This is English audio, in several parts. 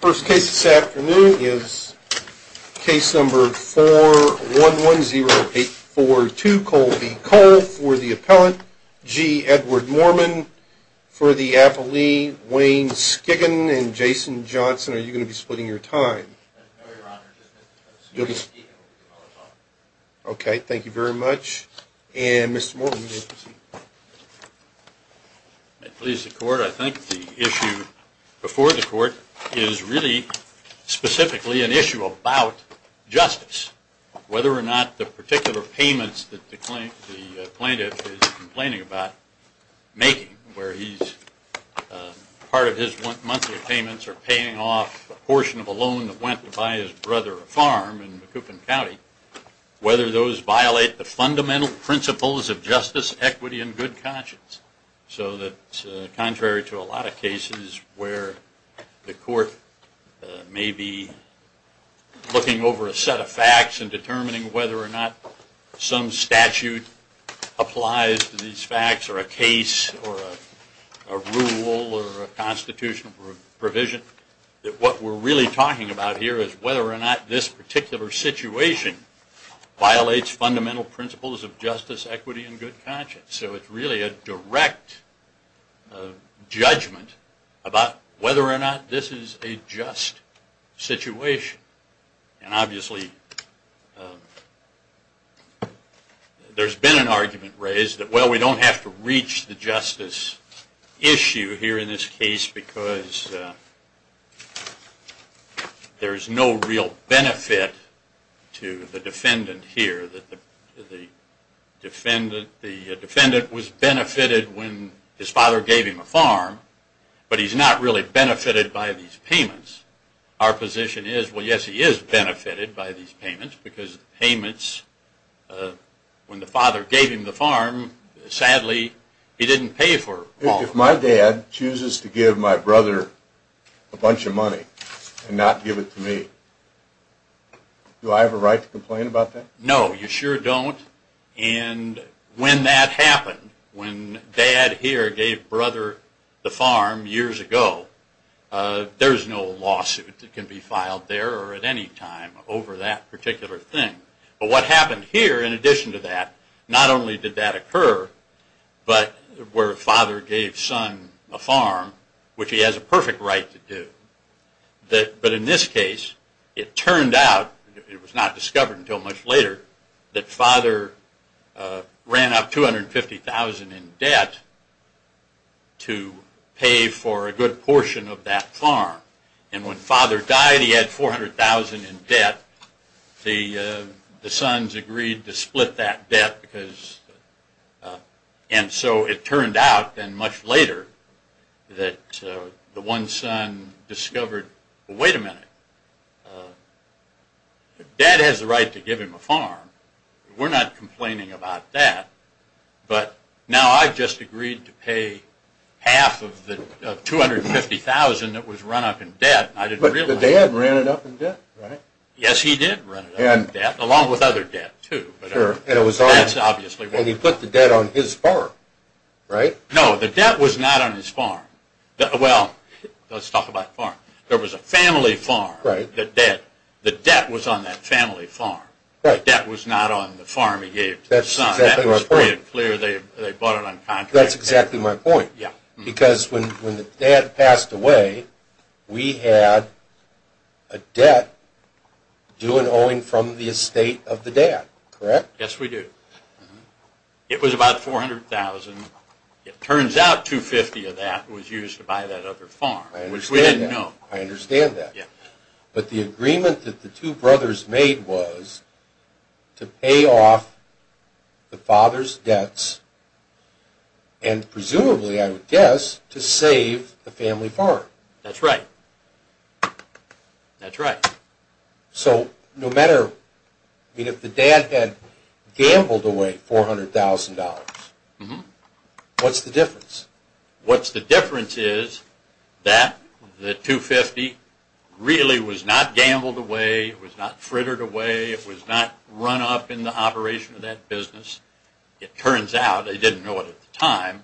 First case this afternoon is case number 4110842, Cole v. Cole for the appellant, G. Edward Mormon for the appellee, Wayne Skiggin and Jason Johnson. Are you going to be splitting your time? No, your honor, just Mr. Coates. Okay, thank you very much. And Mr. Mormon, you may proceed. May it please the court, I think the issue before the court is really specifically an issue about justice. Whether or not the particular payments that the plaintiff is complaining about making, where part of his monthly payments are paying off a portion of a loan that went to buy his brother a farm in Macoupin County, whether those violate the fundamental principles of justice, equity, and good conscience. So that contrary to a lot of cases where the court may be looking over a set of facts and determining whether or not some statute applies to these facts or a case or a rule or a constitutional provision, what we're really talking about here is whether or not this particular situation violates fundamental principles of justice, equity, and good conscience. So it's really a direct judgment about whether or not this is a just situation. And obviously there's been an argument raised that, well, we don't have to reach the justice issue here in this case because there's no real benefit to the defendant here. The defendant was benefited when his father gave him a farm, but he's not really benefited by these payments. Our position is, well, yes, he is benefited by these payments because payments, when the father gave him the farm, sadly, he didn't pay for all of it. If my dad chooses to give my brother a bunch of money and not give it to me, do I have a right to complain about that? No, you sure don't. And when that happened, when dad here gave brother the farm years ago, there's no lawsuit that can be filed there or at any time over that particular thing. But what happened here in addition to that, not only did that occur, but where father gave son a farm, which he has a perfect right to do. But in this case, it turned out, it was not discovered until much later, that father ran up $250,000 in debt to pay for a good portion of that farm. And when father died, he had $400,000 in debt. The sons agreed to split that debt, and so it turned out then much later that the one son discovered, wait a minute, dad has the right to give him a farm. We're not complaining about that. But now I've just agreed to pay half of the $250,000 that was run up in debt. But the dad ran it up in debt, right? Yes, he did run it up in debt, along with other debt, too. And he put the debt on his farm, right? No, the debt was not on his farm. Well, let's talk about farm. There was a family farm. The debt was on that family farm. The debt was not on the farm he gave to the son. That's exactly my point. That's exactly my point. Because when the dad passed away, we had a debt due and owing from the estate of the dad, correct? Yes, we do. It was about $400,000. It turns out $250,000 of that was used to buy that other farm, which we didn't know. I understand that. But the agreement that the two brothers made was to pay off the father's debts and presumably, I would guess, to save the family farm. That's right. That's right. So if the dad had gambled away $400,000, what's the difference? What's the difference is that the $250,000 really was not gambled away. It was not frittered away. It was not run up in the operation of that business. It turns out they didn't know it at the time.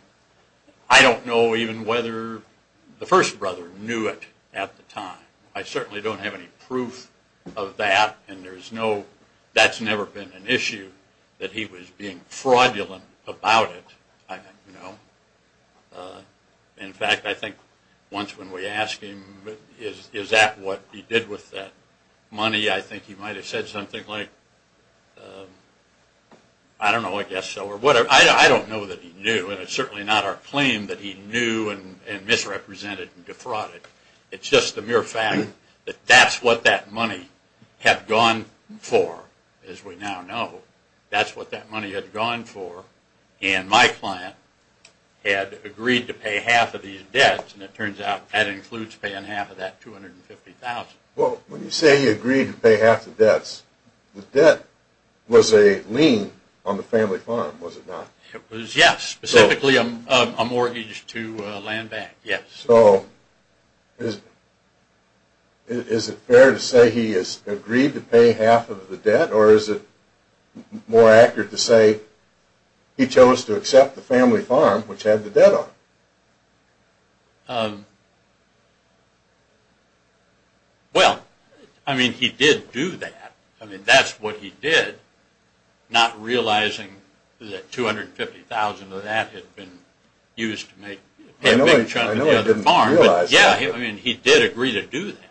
I don't know even whether the first brother knew it at the time. I certainly don't have any proof of that, and that's never been an issue that he was being fraudulent about it. I don't know. In fact, I think once when we asked him, is that what he did with that money, I think he might have said something like, I don't know, I guess so. I don't know that he knew, and it's certainly not our claim that he knew and misrepresented and defrauded. It's just the mere fact that that's what that money had gone for, as we now know. That's what that money had gone for. And my client had agreed to pay half of these debts, and it turns out that includes paying half of that $250,000. Well, when you say he agreed to pay half the debts, the debt was a lien on the family fund, was it not? It was, yes, specifically a mortgage to a land bank, yes. So is it fair to say he has agreed to pay half of the debt, or is it more accurate to say he chose to accept the family farm, which had the debt on it? Well, I mean, he did do that. I mean, that's what he did, not realizing that $250,000 of that had been used to pay a big chunk of debt. I know he didn't realize that. Yeah, I mean, he did agree to do that.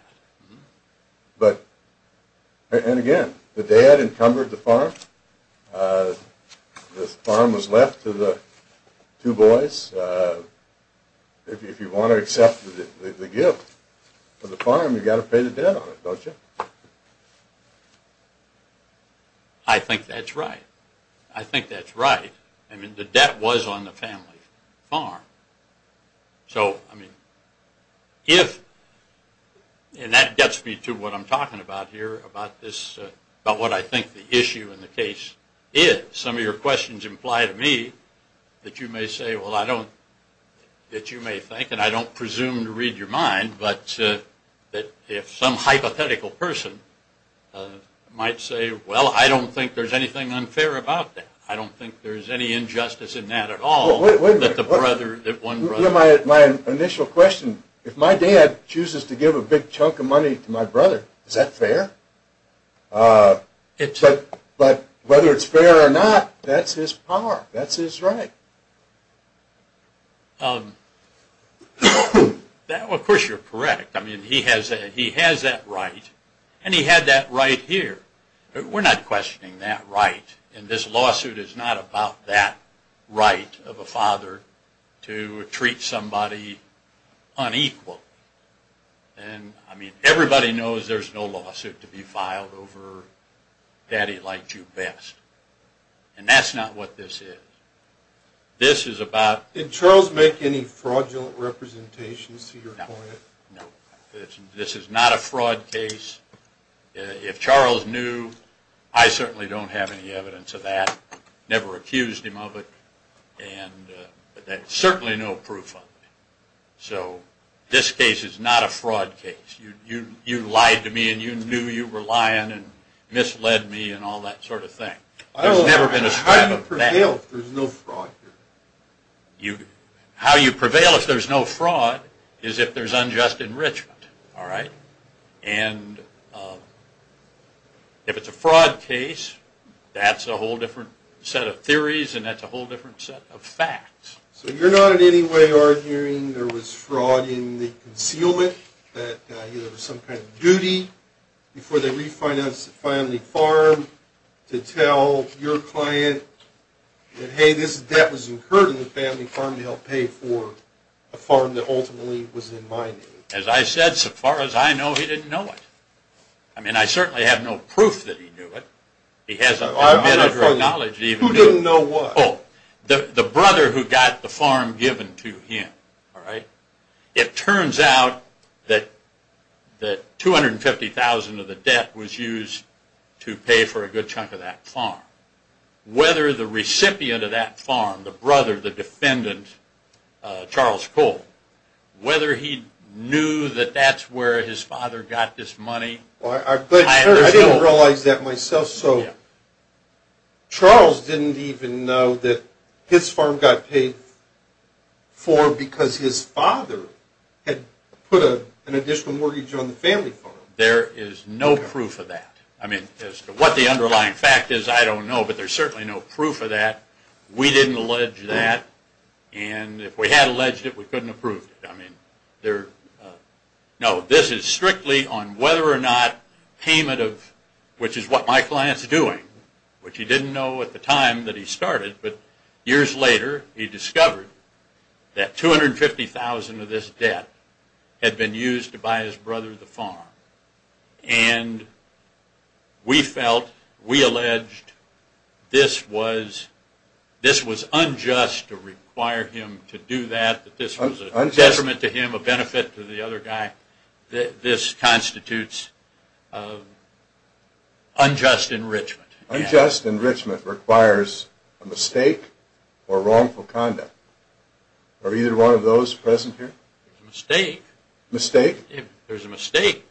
And again, the dad encumbered the farm. The farm was left to the two boys. If you want to accept the gift of the farm, you've got to pay the debt on it, don't you? I think that's right. I think that's right. I mean, the debt was on the family farm. So, I mean, if, and that gets me to what I'm talking about here, about what I think the issue in the case is. Some of your questions imply to me that you may say, well, I don't, that you may think, and I don't presume to read your mind, but that if some hypothetical person might say, well, I don't think there's anything unfair about that. I don't think there's any injustice in that at all that the brother, that one brother. My initial question, if my dad chooses to give a big chunk of money to my brother, is that fair? But whether it's fair or not, that's his power. That's his right. Of course, you're correct. I mean, he has that right, and he had that right here. We're not questioning that right. And this lawsuit is not about that right of a father to treat somebody unequal. And, I mean, everybody knows there's no lawsuit to be filed over daddy liked you best. And that's not what this is. This is about... Did Charles make any fraudulent representations to your point? No. This is not a fraud case. If Charles knew, I certainly don't have any evidence of that. Never accused him of it. And certainly no proof of it. So this case is not a fraud case. You lied to me, and you knew you were lying, and misled me, and all that sort of thing. There's never been a threat of that. How do you prevail if there's no fraud? How you prevail if there's no fraud is if there's unjust enrichment. All right? And if it's a fraud case, that's a whole different set of theories, and that's a whole different set of facts. So you're not in any way arguing there was fraud in the concealment, that there was some kind of duty before they refinanced the family farm to tell your client that, hey, this debt was incurred in the family farm to help pay for a farm that ultimately was in my name? As I said, so far as I know, he didn't know it. I mean, I certainly have no proof that he knew it. He hasn't admitted or acknowledged it. Who didn't know what? The brother who got the farm given to him. All right? It turns out that $250,000 of the debt was used to pay for a good chunk of that farm. Whether the recipient of that farm, the brother, the defendant, Charles Cole, whether he knew that that's where his father got this money. I didn't realize that myself. So Charles didn't even know that his farm got paid for because his father had put an additional mortgage on the family farm. There is no proof of that. I mean, as to what the underlying fact is, I don't know, but there's certainly no proof of that. We didn't allege that. And if we had alleged it, we couldn't have proved it. No, this is strictly on whether or not payment of, which is what my client's doing, which he didn't know at the time that he started, but years later he discovered that $250,000 of this debt had been used to buy his brother the farm. And we felt, we alleged, this was unjust to require him to do that, that this was a detriment to him, a benefit to the other guy. This constitutes unjust enrichment. Unjust enrichment requires a mistake or wrongful conduct. Are either one of those present here? Mistake. Mistake? There's a mistake.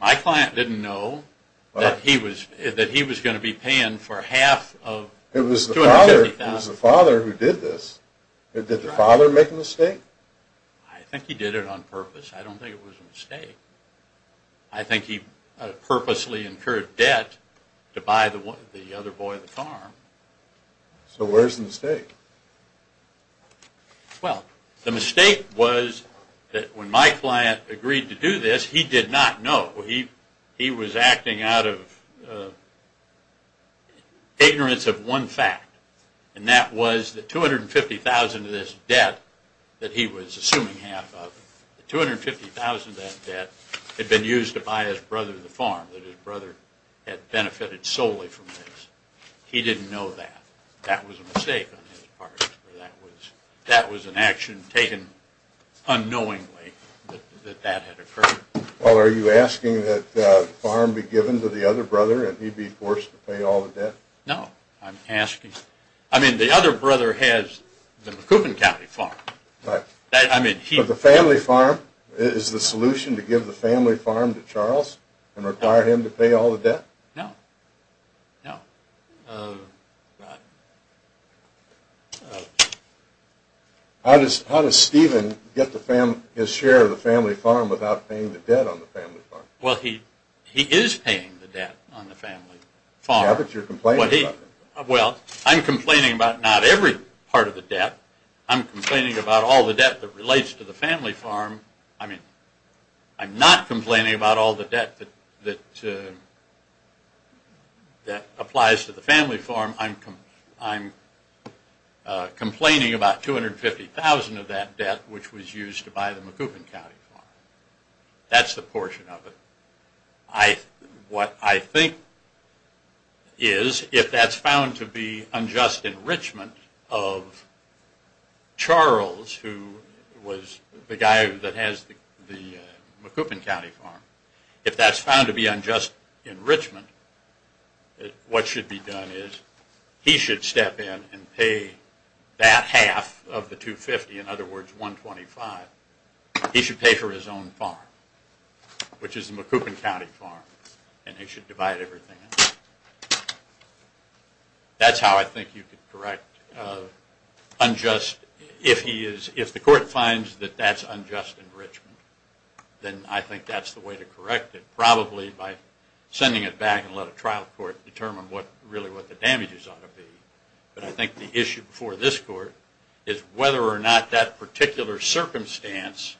My client didn't know that he was going to be paying for half of $250,000. It was the father who did this. Did the father make a mistake? I think he did it on purpose. I don't think it was a mistake. I think he purposely incurred debt to buy the other boy the farm. So where's the mistake? Well, the mistake was that when my client agreed to do this, he did not know. He was acting out of ignorance of one fact, and that was that $250,000 of this debt that he was assuming half of, $250,000 of that debt had been used to buy his brother the farm, that his brother had benefited solely from this. He didn't know that. That was a mistake on his part. That was an action taken unknowingly that that had occurred. Well, are you asking that the farm be given to the other brother, and he be forced to pay all the debt? No. I'm asking. I mean, the other brother has the McCubbin County farm. But the family farm is the solution to give the family farm to Charles and require him to pay all the debt? No. No. Oh, God. How does Stephen get his share of the family farm without paying the debt on the family farm? Well, he is paying the debt on the family farm. Yeah, but you're complaining about it. Well, I'm complaining about not every part of the debt. I'm complaining about all the debt that relates to the family farm. I'm not complaining about all the debt that applies to the family farm. I'm complaining about $250,000 of that debt, which was used to buy the McCubbin County farm. That's the portion of it. What I think is, if that's found to be unjust enrichment of Charles, who was the guy that has the McCubbin County farm, if that's found to be unjust enrichment, what should be done is he should step in and pay that half of the $250,000, in other words, $125,000. He should pay for his own farm, which is the McCubbin County farm, and he should divide everything. That's how I think you could correct unjust. If the court finds that that's unjust enrichment, then I think that's the way to correct it, probably by sending it back and let a trial court determine really what the damages ought to be. But I think the issue before this court is whether or not that particular circumstance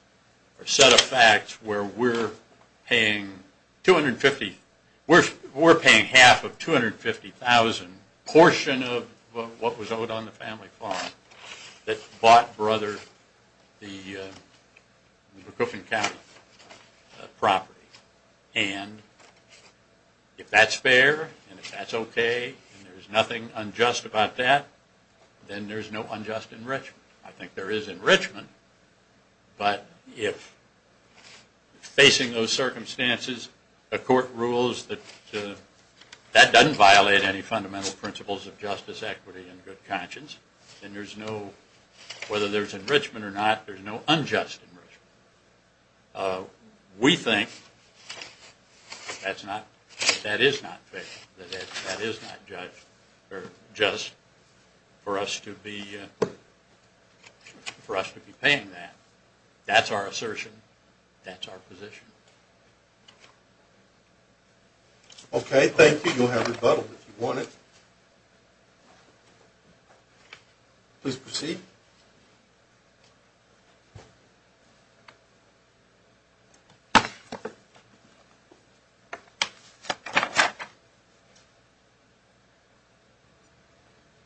or set of facts where we're paying half of $250,000 portion of what was owed on the family farm that bought Brother the McCubbin County property. And if that's fair and if that's okay and there's nothing unjust about that, then there's no unjust enrichment. I think there is enrichment, but if facing those circumstances a court rules that that doesn't violate any fundamental principles of justice, equity, and good conscience, then whether there's enrichment or not, there's no unjust enrichment. We think that is not fair, that is not just for us to be paying that. That's our assertion. That's our position. Okay, thank you. You'll have rebuttal if you want it. Please proceed.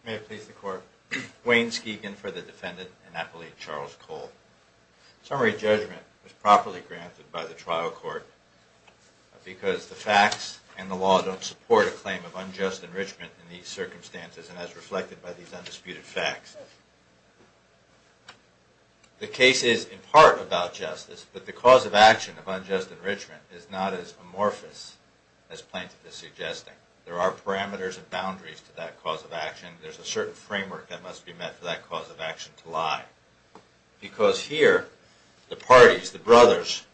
May it please the court. Wayne Skegan for the defendant and appellee Charles Cole. Summary judgment was properly granted by the trial court because the facts and the law don't support a claim of unjust enrichment in these circumstances and as reflected by these undisputed facts. The case is in part about justice, but the cause of action of unjust enrichment is not as amorphous as Plaintiff is suggesting. There are parameters and boundaries to that cause of action. There's a certain framework that must be met for that cause of action to lie. Because here, the parties, the brothers,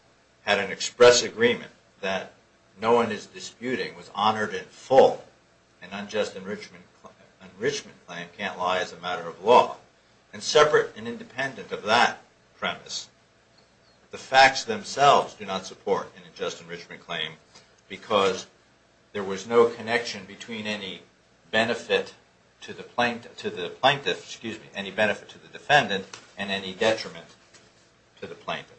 had an express agreement that no one is disputing, was honored in full. An unjust enrichment claim can't lie as a matter of law and separate and independent of that premise. The facts themselves do not support an unjust enrichment claim because there was no connection between any benefit to the plaintiff, excuse me, any benefit to the defendant and any detriment to the plaintiff.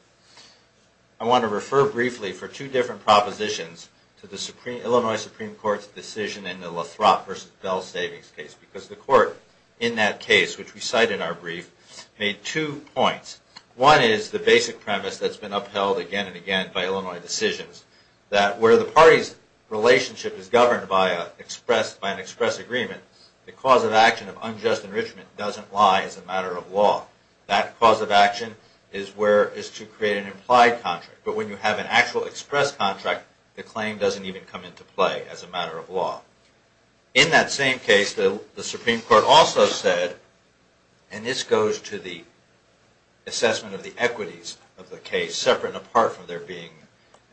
I want to refer briefly for two different propositions to the Illinois Supreme Court's decision in the Lathrop v. Bell Savings case. Because the court in that case, which we cite in our brief, made two points. One is the basic premise that's been upheld again and again by Illinois decisions. That where the party's relationship is governed by an express agreement, the cause of action of unjust enrichment doesn't lie as a matter of law. That cause of action is to create an implied contract. But when you have an actual express contract, the claim doesn't even come into play as a matter of law. In that same case, the Supreme Court also said, and this goes to the assessment of the equities of the case, separate and apart from there being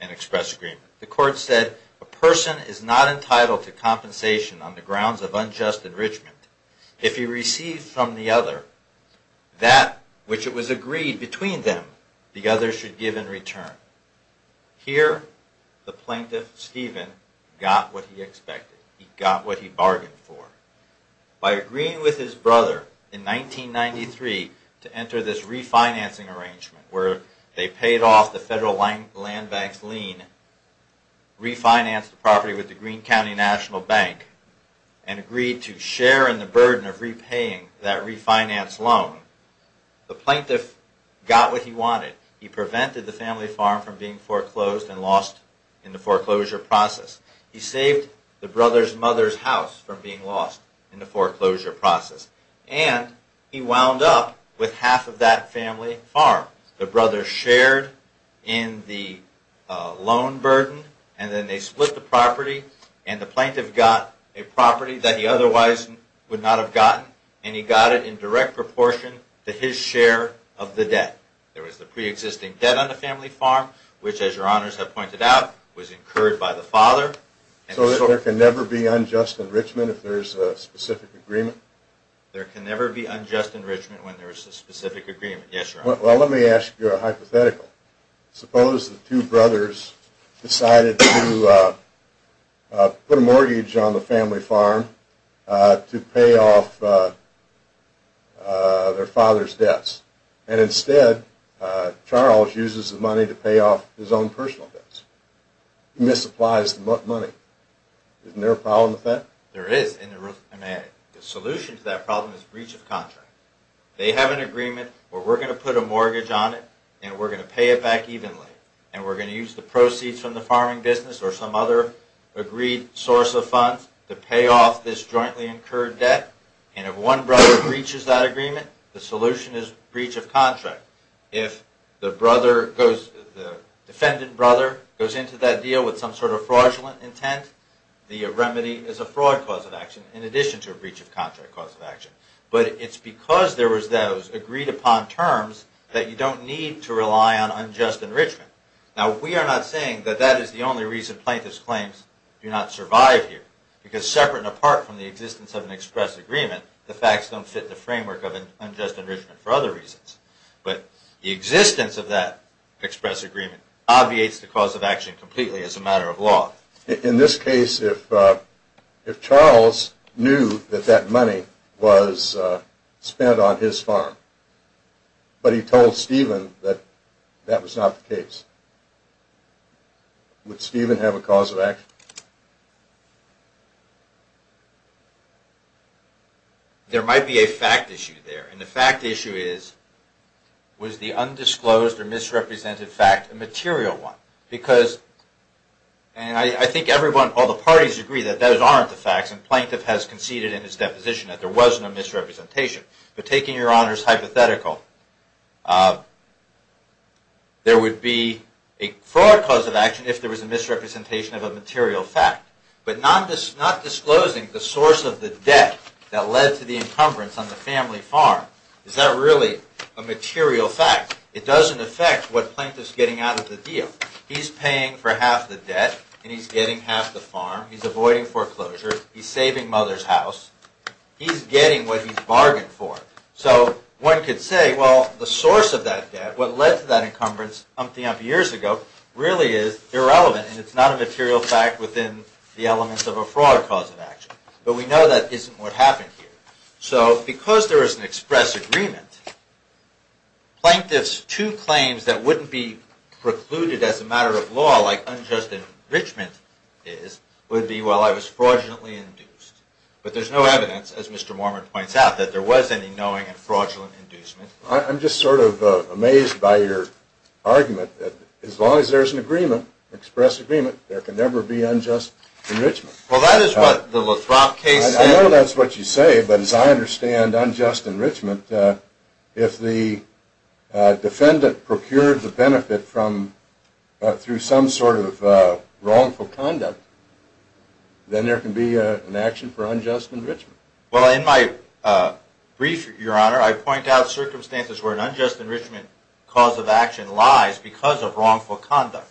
an express agreement. The court said, a person is not entitled to compensation on the grounds of unjust enrichment. If he receives from the other that which it was agreed between them, the other should give in return. Here, the plaintiff, Stephen, got what he expected. He got what he bargained for. By agreeing with his brother in 1993 to enter this refinancing arrangement where they paid off the federal land bank's lien, refinanced the property with the Green County National Bank, and agreed to share in the burden of repaying that refinance loan, the plaintiff got what he wanted. He prevented the family farm from being foreclosed and lost in the foreclosure process. He saved the brother's mother's house from being lost in the foreclosure process. And he wound up with half of that family farm. The brother shared in the loan burden, and then they split the property, and the plaintiff got a property that he otherwise would not have gotten, and he got it in direct proportion to his share of the debt. There was the pre-existing debt on the family farm, which, as your honors have pointed out, was incurred by the father. So there can never be unjust enrichment if there is a specific agreement? There can never be unjust enrichment when there is a specific agreement, yes, your honor. Well, let me ask you a hypothetical. Suppose the two brothers decided to put a mortgage on the family farm to pay off their father's debts, and instead, Charles uses the money to pay off his own personal debts. He misapplies the money. Isn't there a problem with that? There is, and the solution to that problem is breach of contract. They have an agreement where we're going to put a mortgage on it, and we're going to pay it back evenly, and we're going to use the proceeds from the farming business or some other agreed source of funds to pay off this jointly incurred debt, and if one brother breaches that agreement, the solution is breach of contract. If the defendant brother goes into that deal with some sort of fraudulent intent, the remedy is a fraud cause of action, in addition to a breach of contract cause of action. But it's because there was those agreed-upon terms that you don't need to rely on unjust enrichment. Now, we are not saying that that is the only reason plaintiffs' claims do not survive here, because separate and apart from the existence of an express agreement, the facts don't fit the framework of unjust enrichment for other reasons. But the existence of that express agreement obviates the cause of action completely as a matter of law. In this case, if Charles knew that that money was spent on his farm, but he told Stephen that that was not the case, would Stephen have a cause of action? There might be a fact issue there, and the fact issue is, was the undisclosed or misrepresented fact a material one? I think all the parties agree that those aren't the facts, and the plaintiff has conceded in his deposition that there was no misrepresentation. But taking your honors hypothetical, there would be a fraud cause of action if there was a misrepresentation of a material fact. But not disclosing the source of the debt that led to the encumbrance on the family farm, is that really a material fact? It doesn't affect what plaintiff's getting out of the deal. He's paying for half the debt, and he's getting half the farm. He's avoiding foreclosure. He's saving mother's house. He's getting what he's bargained for. So one could say, well, the source of that debt, what led to that encumbrance years ago, really is irrelevant, and it's not a material fact within the elements of a fraud cause of action. But we know that isn't what happened here. So because there is an express agreement, plaintiff's two claims that wouldn't be precluded as a matter of law, like unjust enrichment is, would be, well, I was fraudulently induced. But there's no evidence, as Mr. Mormon points out, that there was any knowing and fraudulent inducement. I'm just sort of amazed by your argument that as long as there's an agreement, express agreement, there can never be unjust enrichment. Well, that is what the Lathrop case said. I know that's what you say, but as I understand unjust enrichment, if the defendant procured the benefit through some sort of wrongful conduct, then there can be an action for unjust enrichment. Well, in my brief, Your Honor, I point out circumstances where an unjust enrichment cause of action lies because of wrongful conduct.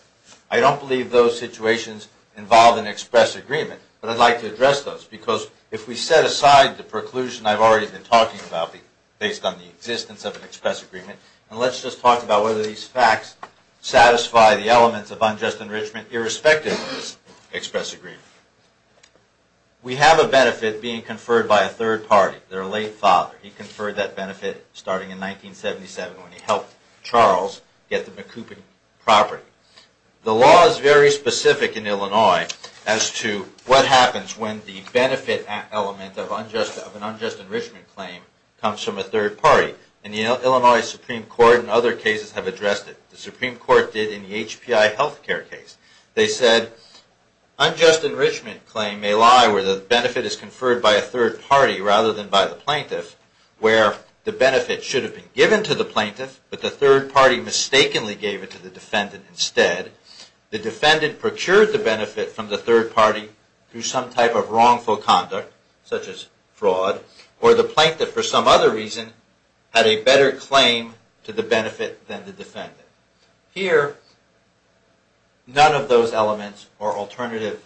I don't believe those situations involve an express agreement, but I'd like to address those because if we set aside the preclusion I've already been talking about based on the existence of an express agreement, and let's just talk about whether these facts satisfy the elements of unjust enrichment irrespective of this express agreement. We have a benefit being conferred by a third party, their late father. He conferred that benefit starting in 1977 when he helped Charles get the Macoupin property. The law is very specific in Illinois as to what happens when the benefit element of an unjust enrichment claim comes from a third party. And the Illinois Supreme Court and other cases have addressed it. The Supreme Court did in the HPI health care case. They said unjust enrichment claim may lie where the benefit is conferred by a third party rather than by the plaintiff, where the benefit should have been given to the plaintiff, but the third party mistakenly gave it to the defendant instead. The defendant procured the benefit from the third party through some type of wrongful conduct, such as fraud, or the plaintiff, for some other reason, had a better claim to the benefit than the defendant. Here, none of those elements or alternative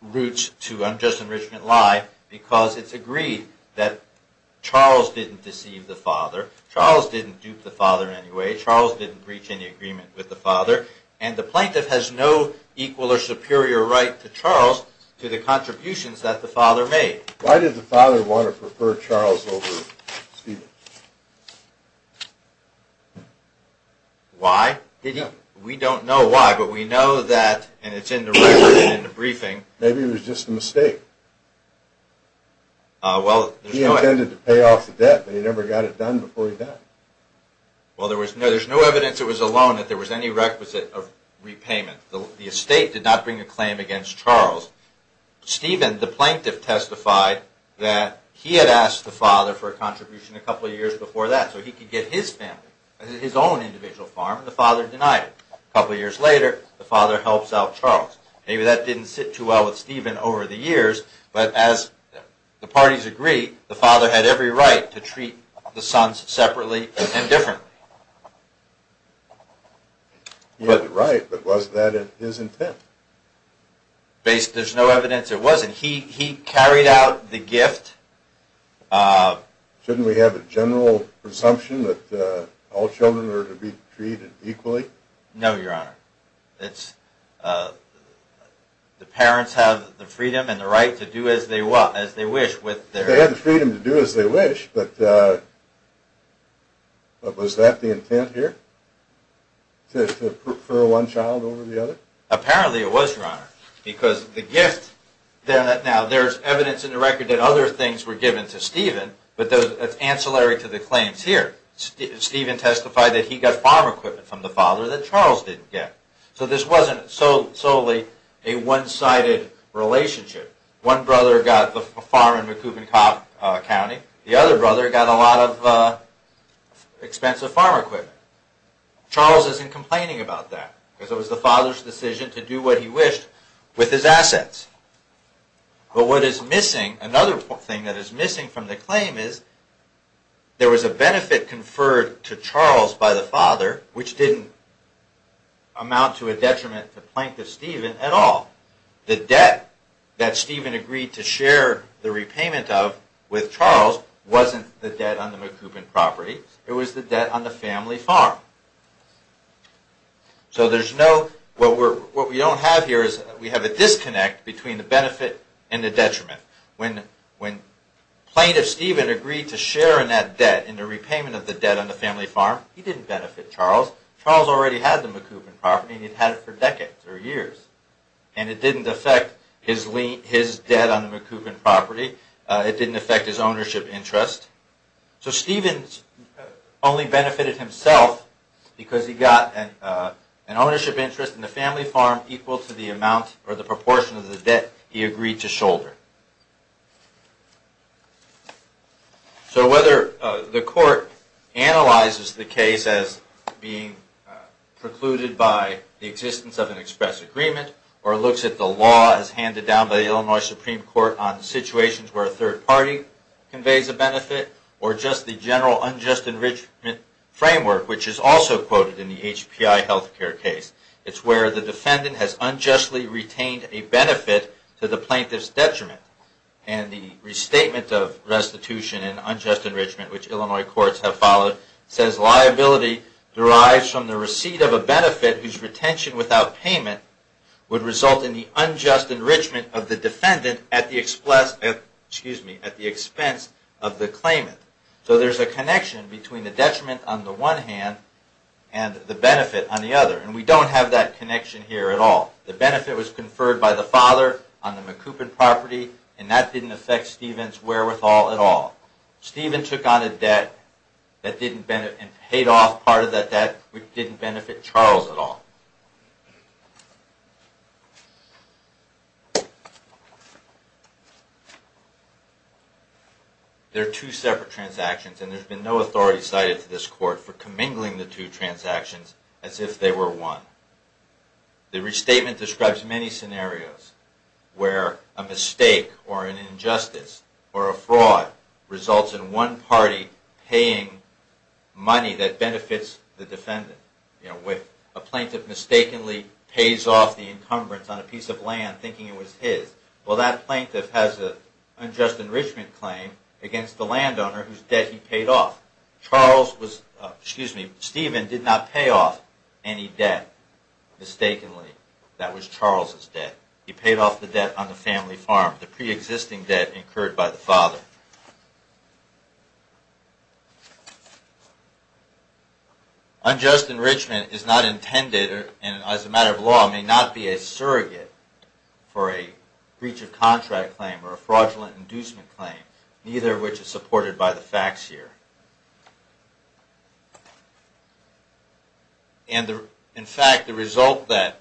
routes to unjust enrichment lie because it's agreed that Charles didn't deceive the father, Charles didn't dupe the father in any way, Charles didn't reach any agreement with the father, and the plaintiff has no equal or superior right to Charles to the contributions that the father made. Why did the father want to prefer Charles over Stephen? Why? We don't know why, but we know that, and it's in the record and in the briefing. Maybe it was just a mistake. He intended to pay off the debt, but he never got it done before he died. Well, there's no evidence it was a loan, that there was any requisite of repayment. The estate did not bring a claim against Charles. Stephen, the plaintiff, testified that he had asked the father for a contribution a couple of years before that, so he could get his family, his own individual farm, and the father denied it. A couple of years later, the father helps out Charles. Maybe that didn't sit too well with Stephen over the years, but as the parties agreed, the father had every right to treat the sons separately and differently. He had the right, but was that his intent? There's no evidence it wasn't. He carried out the gift. Shouldn't we have a general presumption that all children are to be treated equally? No, Your Honor. The parents have the freedom and the right to do as they wish. They have the freedom to do as they wish, but was that the intent here? To prefer one child over the other? Apparently it was, Your Honor, because the gift... Now, there's evidence in the record that other things were given to Stephen, but that's ancillary to the claims here. Stephen testified that he got farm equipment from the father that Charles didn't get. So this wasn't solely a one-sided relationship. One brother got the farm in Macoubin County. The other brother got a lot of expensive farm equipment. Charles isn't complaining about that, because it was the father's decision to do what he wished with his assets. But what is missing, another thing that is missing from the claim is there was a benefit conferred to Charles by the father, which didn't amount to a detriment to Plaintiff Stephen at all. The debt that Stephen agreed to share the repayment of with Charles wasn't the debt on the Macoubin property. It was the debt on the family farm. So there's no... What we don't have here is we have a disconnect between the benefit and the detriment. When Plaintiff Stephen agreed to share in that debt, in the repayment of the debt on the family farm, he didn't benefit Charles. Charles already had the Macoubin property, and he'd had it for decades or years. And it didn't affect his debt on the Macoubin property. It didn't affect his ownership interest. So Stephen only benefited himself, because he got an ownership interest in the family farm equal to the amount or the proportion of the debt he agreed to shoulder. So whether the court analyzes the case as being precluded by the existence of an express agreement, or looks at the law as handed down by the Illinois Supreme Court on situations where a third party conveys a benefit, or just the general unjust enrichment framework, which is also quoted in the HPI health care case. It's where the defendant has unjustly retained a benefit to the plaintiff's detriment. And the restatement of restitution and unjust enrichment, which Illinois courts have followed, says liability derives from the receipt of a benefit whose retention without payment would result in the unjust enrichment of the defendant at the expense of the claimant. So there's a connection between the detriment on the one hand and the benefit on the other. And we don't have that connection here at all. The benefit was conferred by the father on the Macoubin property, and that didn't affect Stephen's wherewithal at all. Stephen took on a debt and paid off part of that debt, which didn't benefit Charles at all. There are two separate transactions, and there's been no authority cited to this court for commingling the two transactions as if they were one. The restatement describes many scenarios where a mistake or an injustice or a fraud results in one party paying money that benefits the defendant. A plaintiff mistakenly pays off the encumbrance on a piece of land thinking it was his. Well, that plaintiff has an unjust enrichment claim against the landowner whose debt he paid off. Stephen did not pay off any debt mistakenly. That was Charles' debt. He paid off the debt on the family farm, the preexisting debt incurred by the father. Unjust enrichment is not intended, and as a matter of law, may not be a surrogate for a breach of contract claim or a fraudulent inducement claim, neither of which is supported by the facts here. In fact, the result that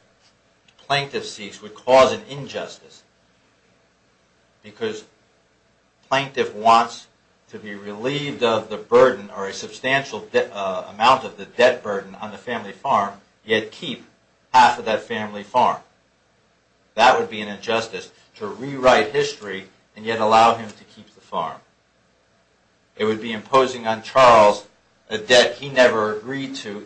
the plaintiff seeks would cause an injustice, because the plaintiff wants to be relieved of the burden or a substantial amount of the debt burden on the family farm, yet keep half of that family farm. That would be an injustice to rewrite history and yet allow him to keep the farm. It would be imposing on Charles a debt he never agreed to.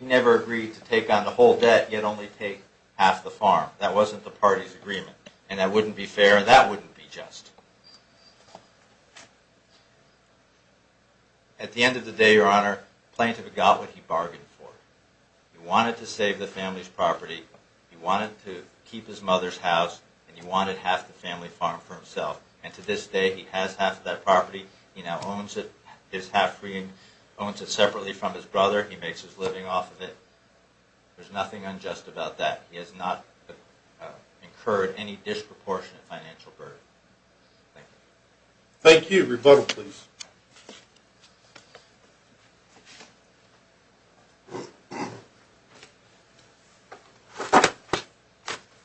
He never agreed to take on the whole debt, yet only take half the farm. That wasn't the party's agreement, and that wouldn't be fair, and that wouldn't be just. At the end of the day, Your Honor, the plaintiff got what he bargained for. He wanted to save the family's property, he wanted to keep his mother's house, and he wanted half the family farm for himself. And to this day, he has half of that property. He now owns it separately from his brother. He makes his living off of it. There's nothing unjust about that. He has not incurred any disproportionate financial burden. Thank you. Thank you. Rebuttal, please.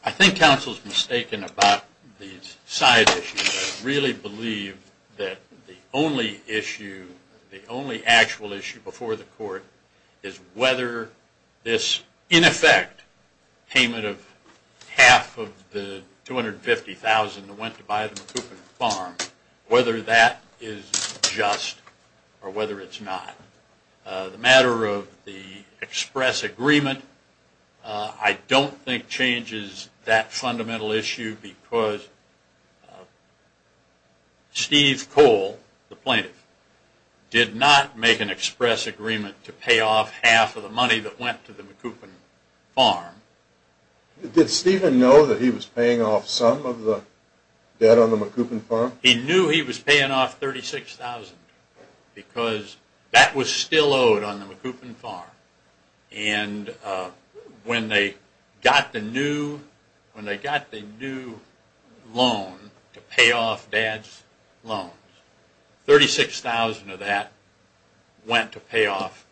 I think counsel's mistaken about these side issues. I really believe that the only issue, the only actual issue before the court, is whether this, in effect, payment of half of the $250,000 that went to buy the MacCoupin farm, whether that is just or whether it's not. The matter of the express agreement, I don't think changes that fundamental issue because Steve Cole, the plaintiff, did not make an express agreement to pay off half of the money that went to the MacCoupin farm. Did Stephen know that he was paying off some of the debt on the MacCoupin farm? He knew he was paying off $36,000 because that was still owed on the MacCoupin farm. And when they got the new loan to pay off dad's loans, $36,000 of that went to pay off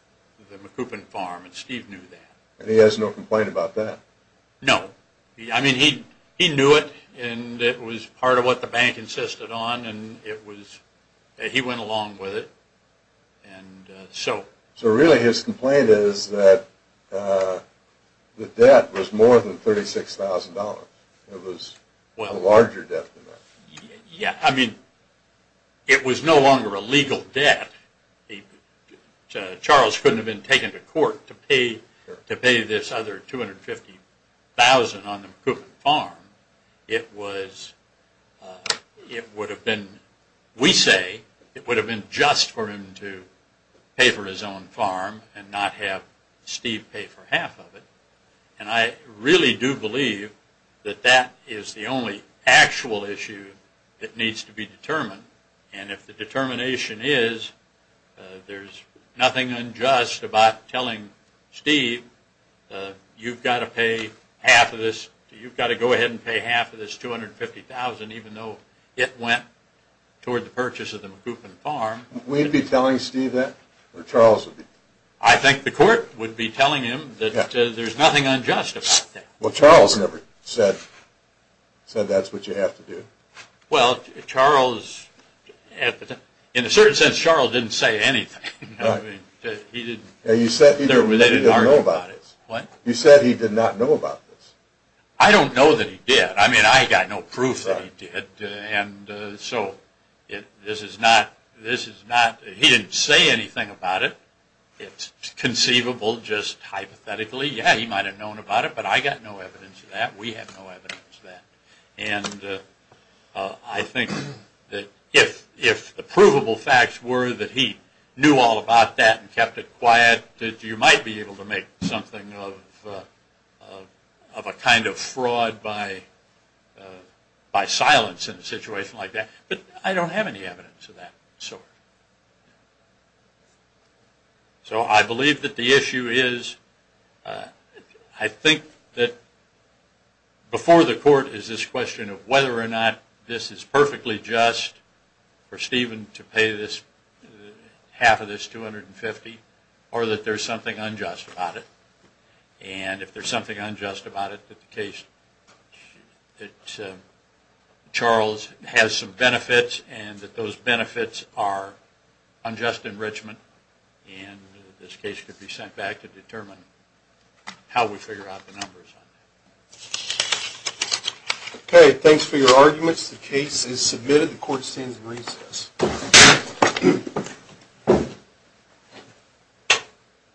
the MacCoupin farm, and Steve knew that. And he has no complaint about that? No. I mean, he knew it, and it was part of what the bank insisted on, and he went along with it. So really his complaint is that the debt was more than $36,000. It was a larger debt than that. Yeah. I mean, it was no longer a legal debt. Charles couldn't have been taken to court to pay this other $250,000 on the MacCoupin farm. It would have been, we say, it would have been just for him to pay for his own farm and not have Steve pay for half of it. And I really do believe that that is the only actual issue that needs to be determined. And if the determination is there's nothing unjust about telling Steve, you've got to pay half of this, you've got to go ahead and pay half of this $250,000 even though it went toward the purchase of the MacCoupin farm. We'd be telling Steve that or Charles would be? I think the court would be telling him that there's nothing unjust about that. Well, Charles never said that's what you have to do. Well, Charles, in a certain sense, Charles didn't say anything. He said he didn't know about this. He said he did not know about this. I don't know that he did. I mean, I got no proof that he did. And so this is not, he didn't say anything about it. It's conceivable just hypothetically. Yeah, he might have known about it, but I got no evidence of that. We have no evidence of that. And I think that if the provable facts were that he knew all about that and kept it quiet, that you might be able to make something of a kind of fraud by silence in a situation like that. But I don't have any evidence of that sort. So I believe that the issue is, I think that before the court is this question of whether or not this is perfectly just for Stephen to pay half of this $250 or that there's something unjust about it. And if there's something unjust about it, that the case that Charles has some benefits and that those benefits are unjust enrichment and this case could be sent back to determine how we figure out the numbers on that. Okay, thanks for your arguments. The case is submitted. The court stands in recess.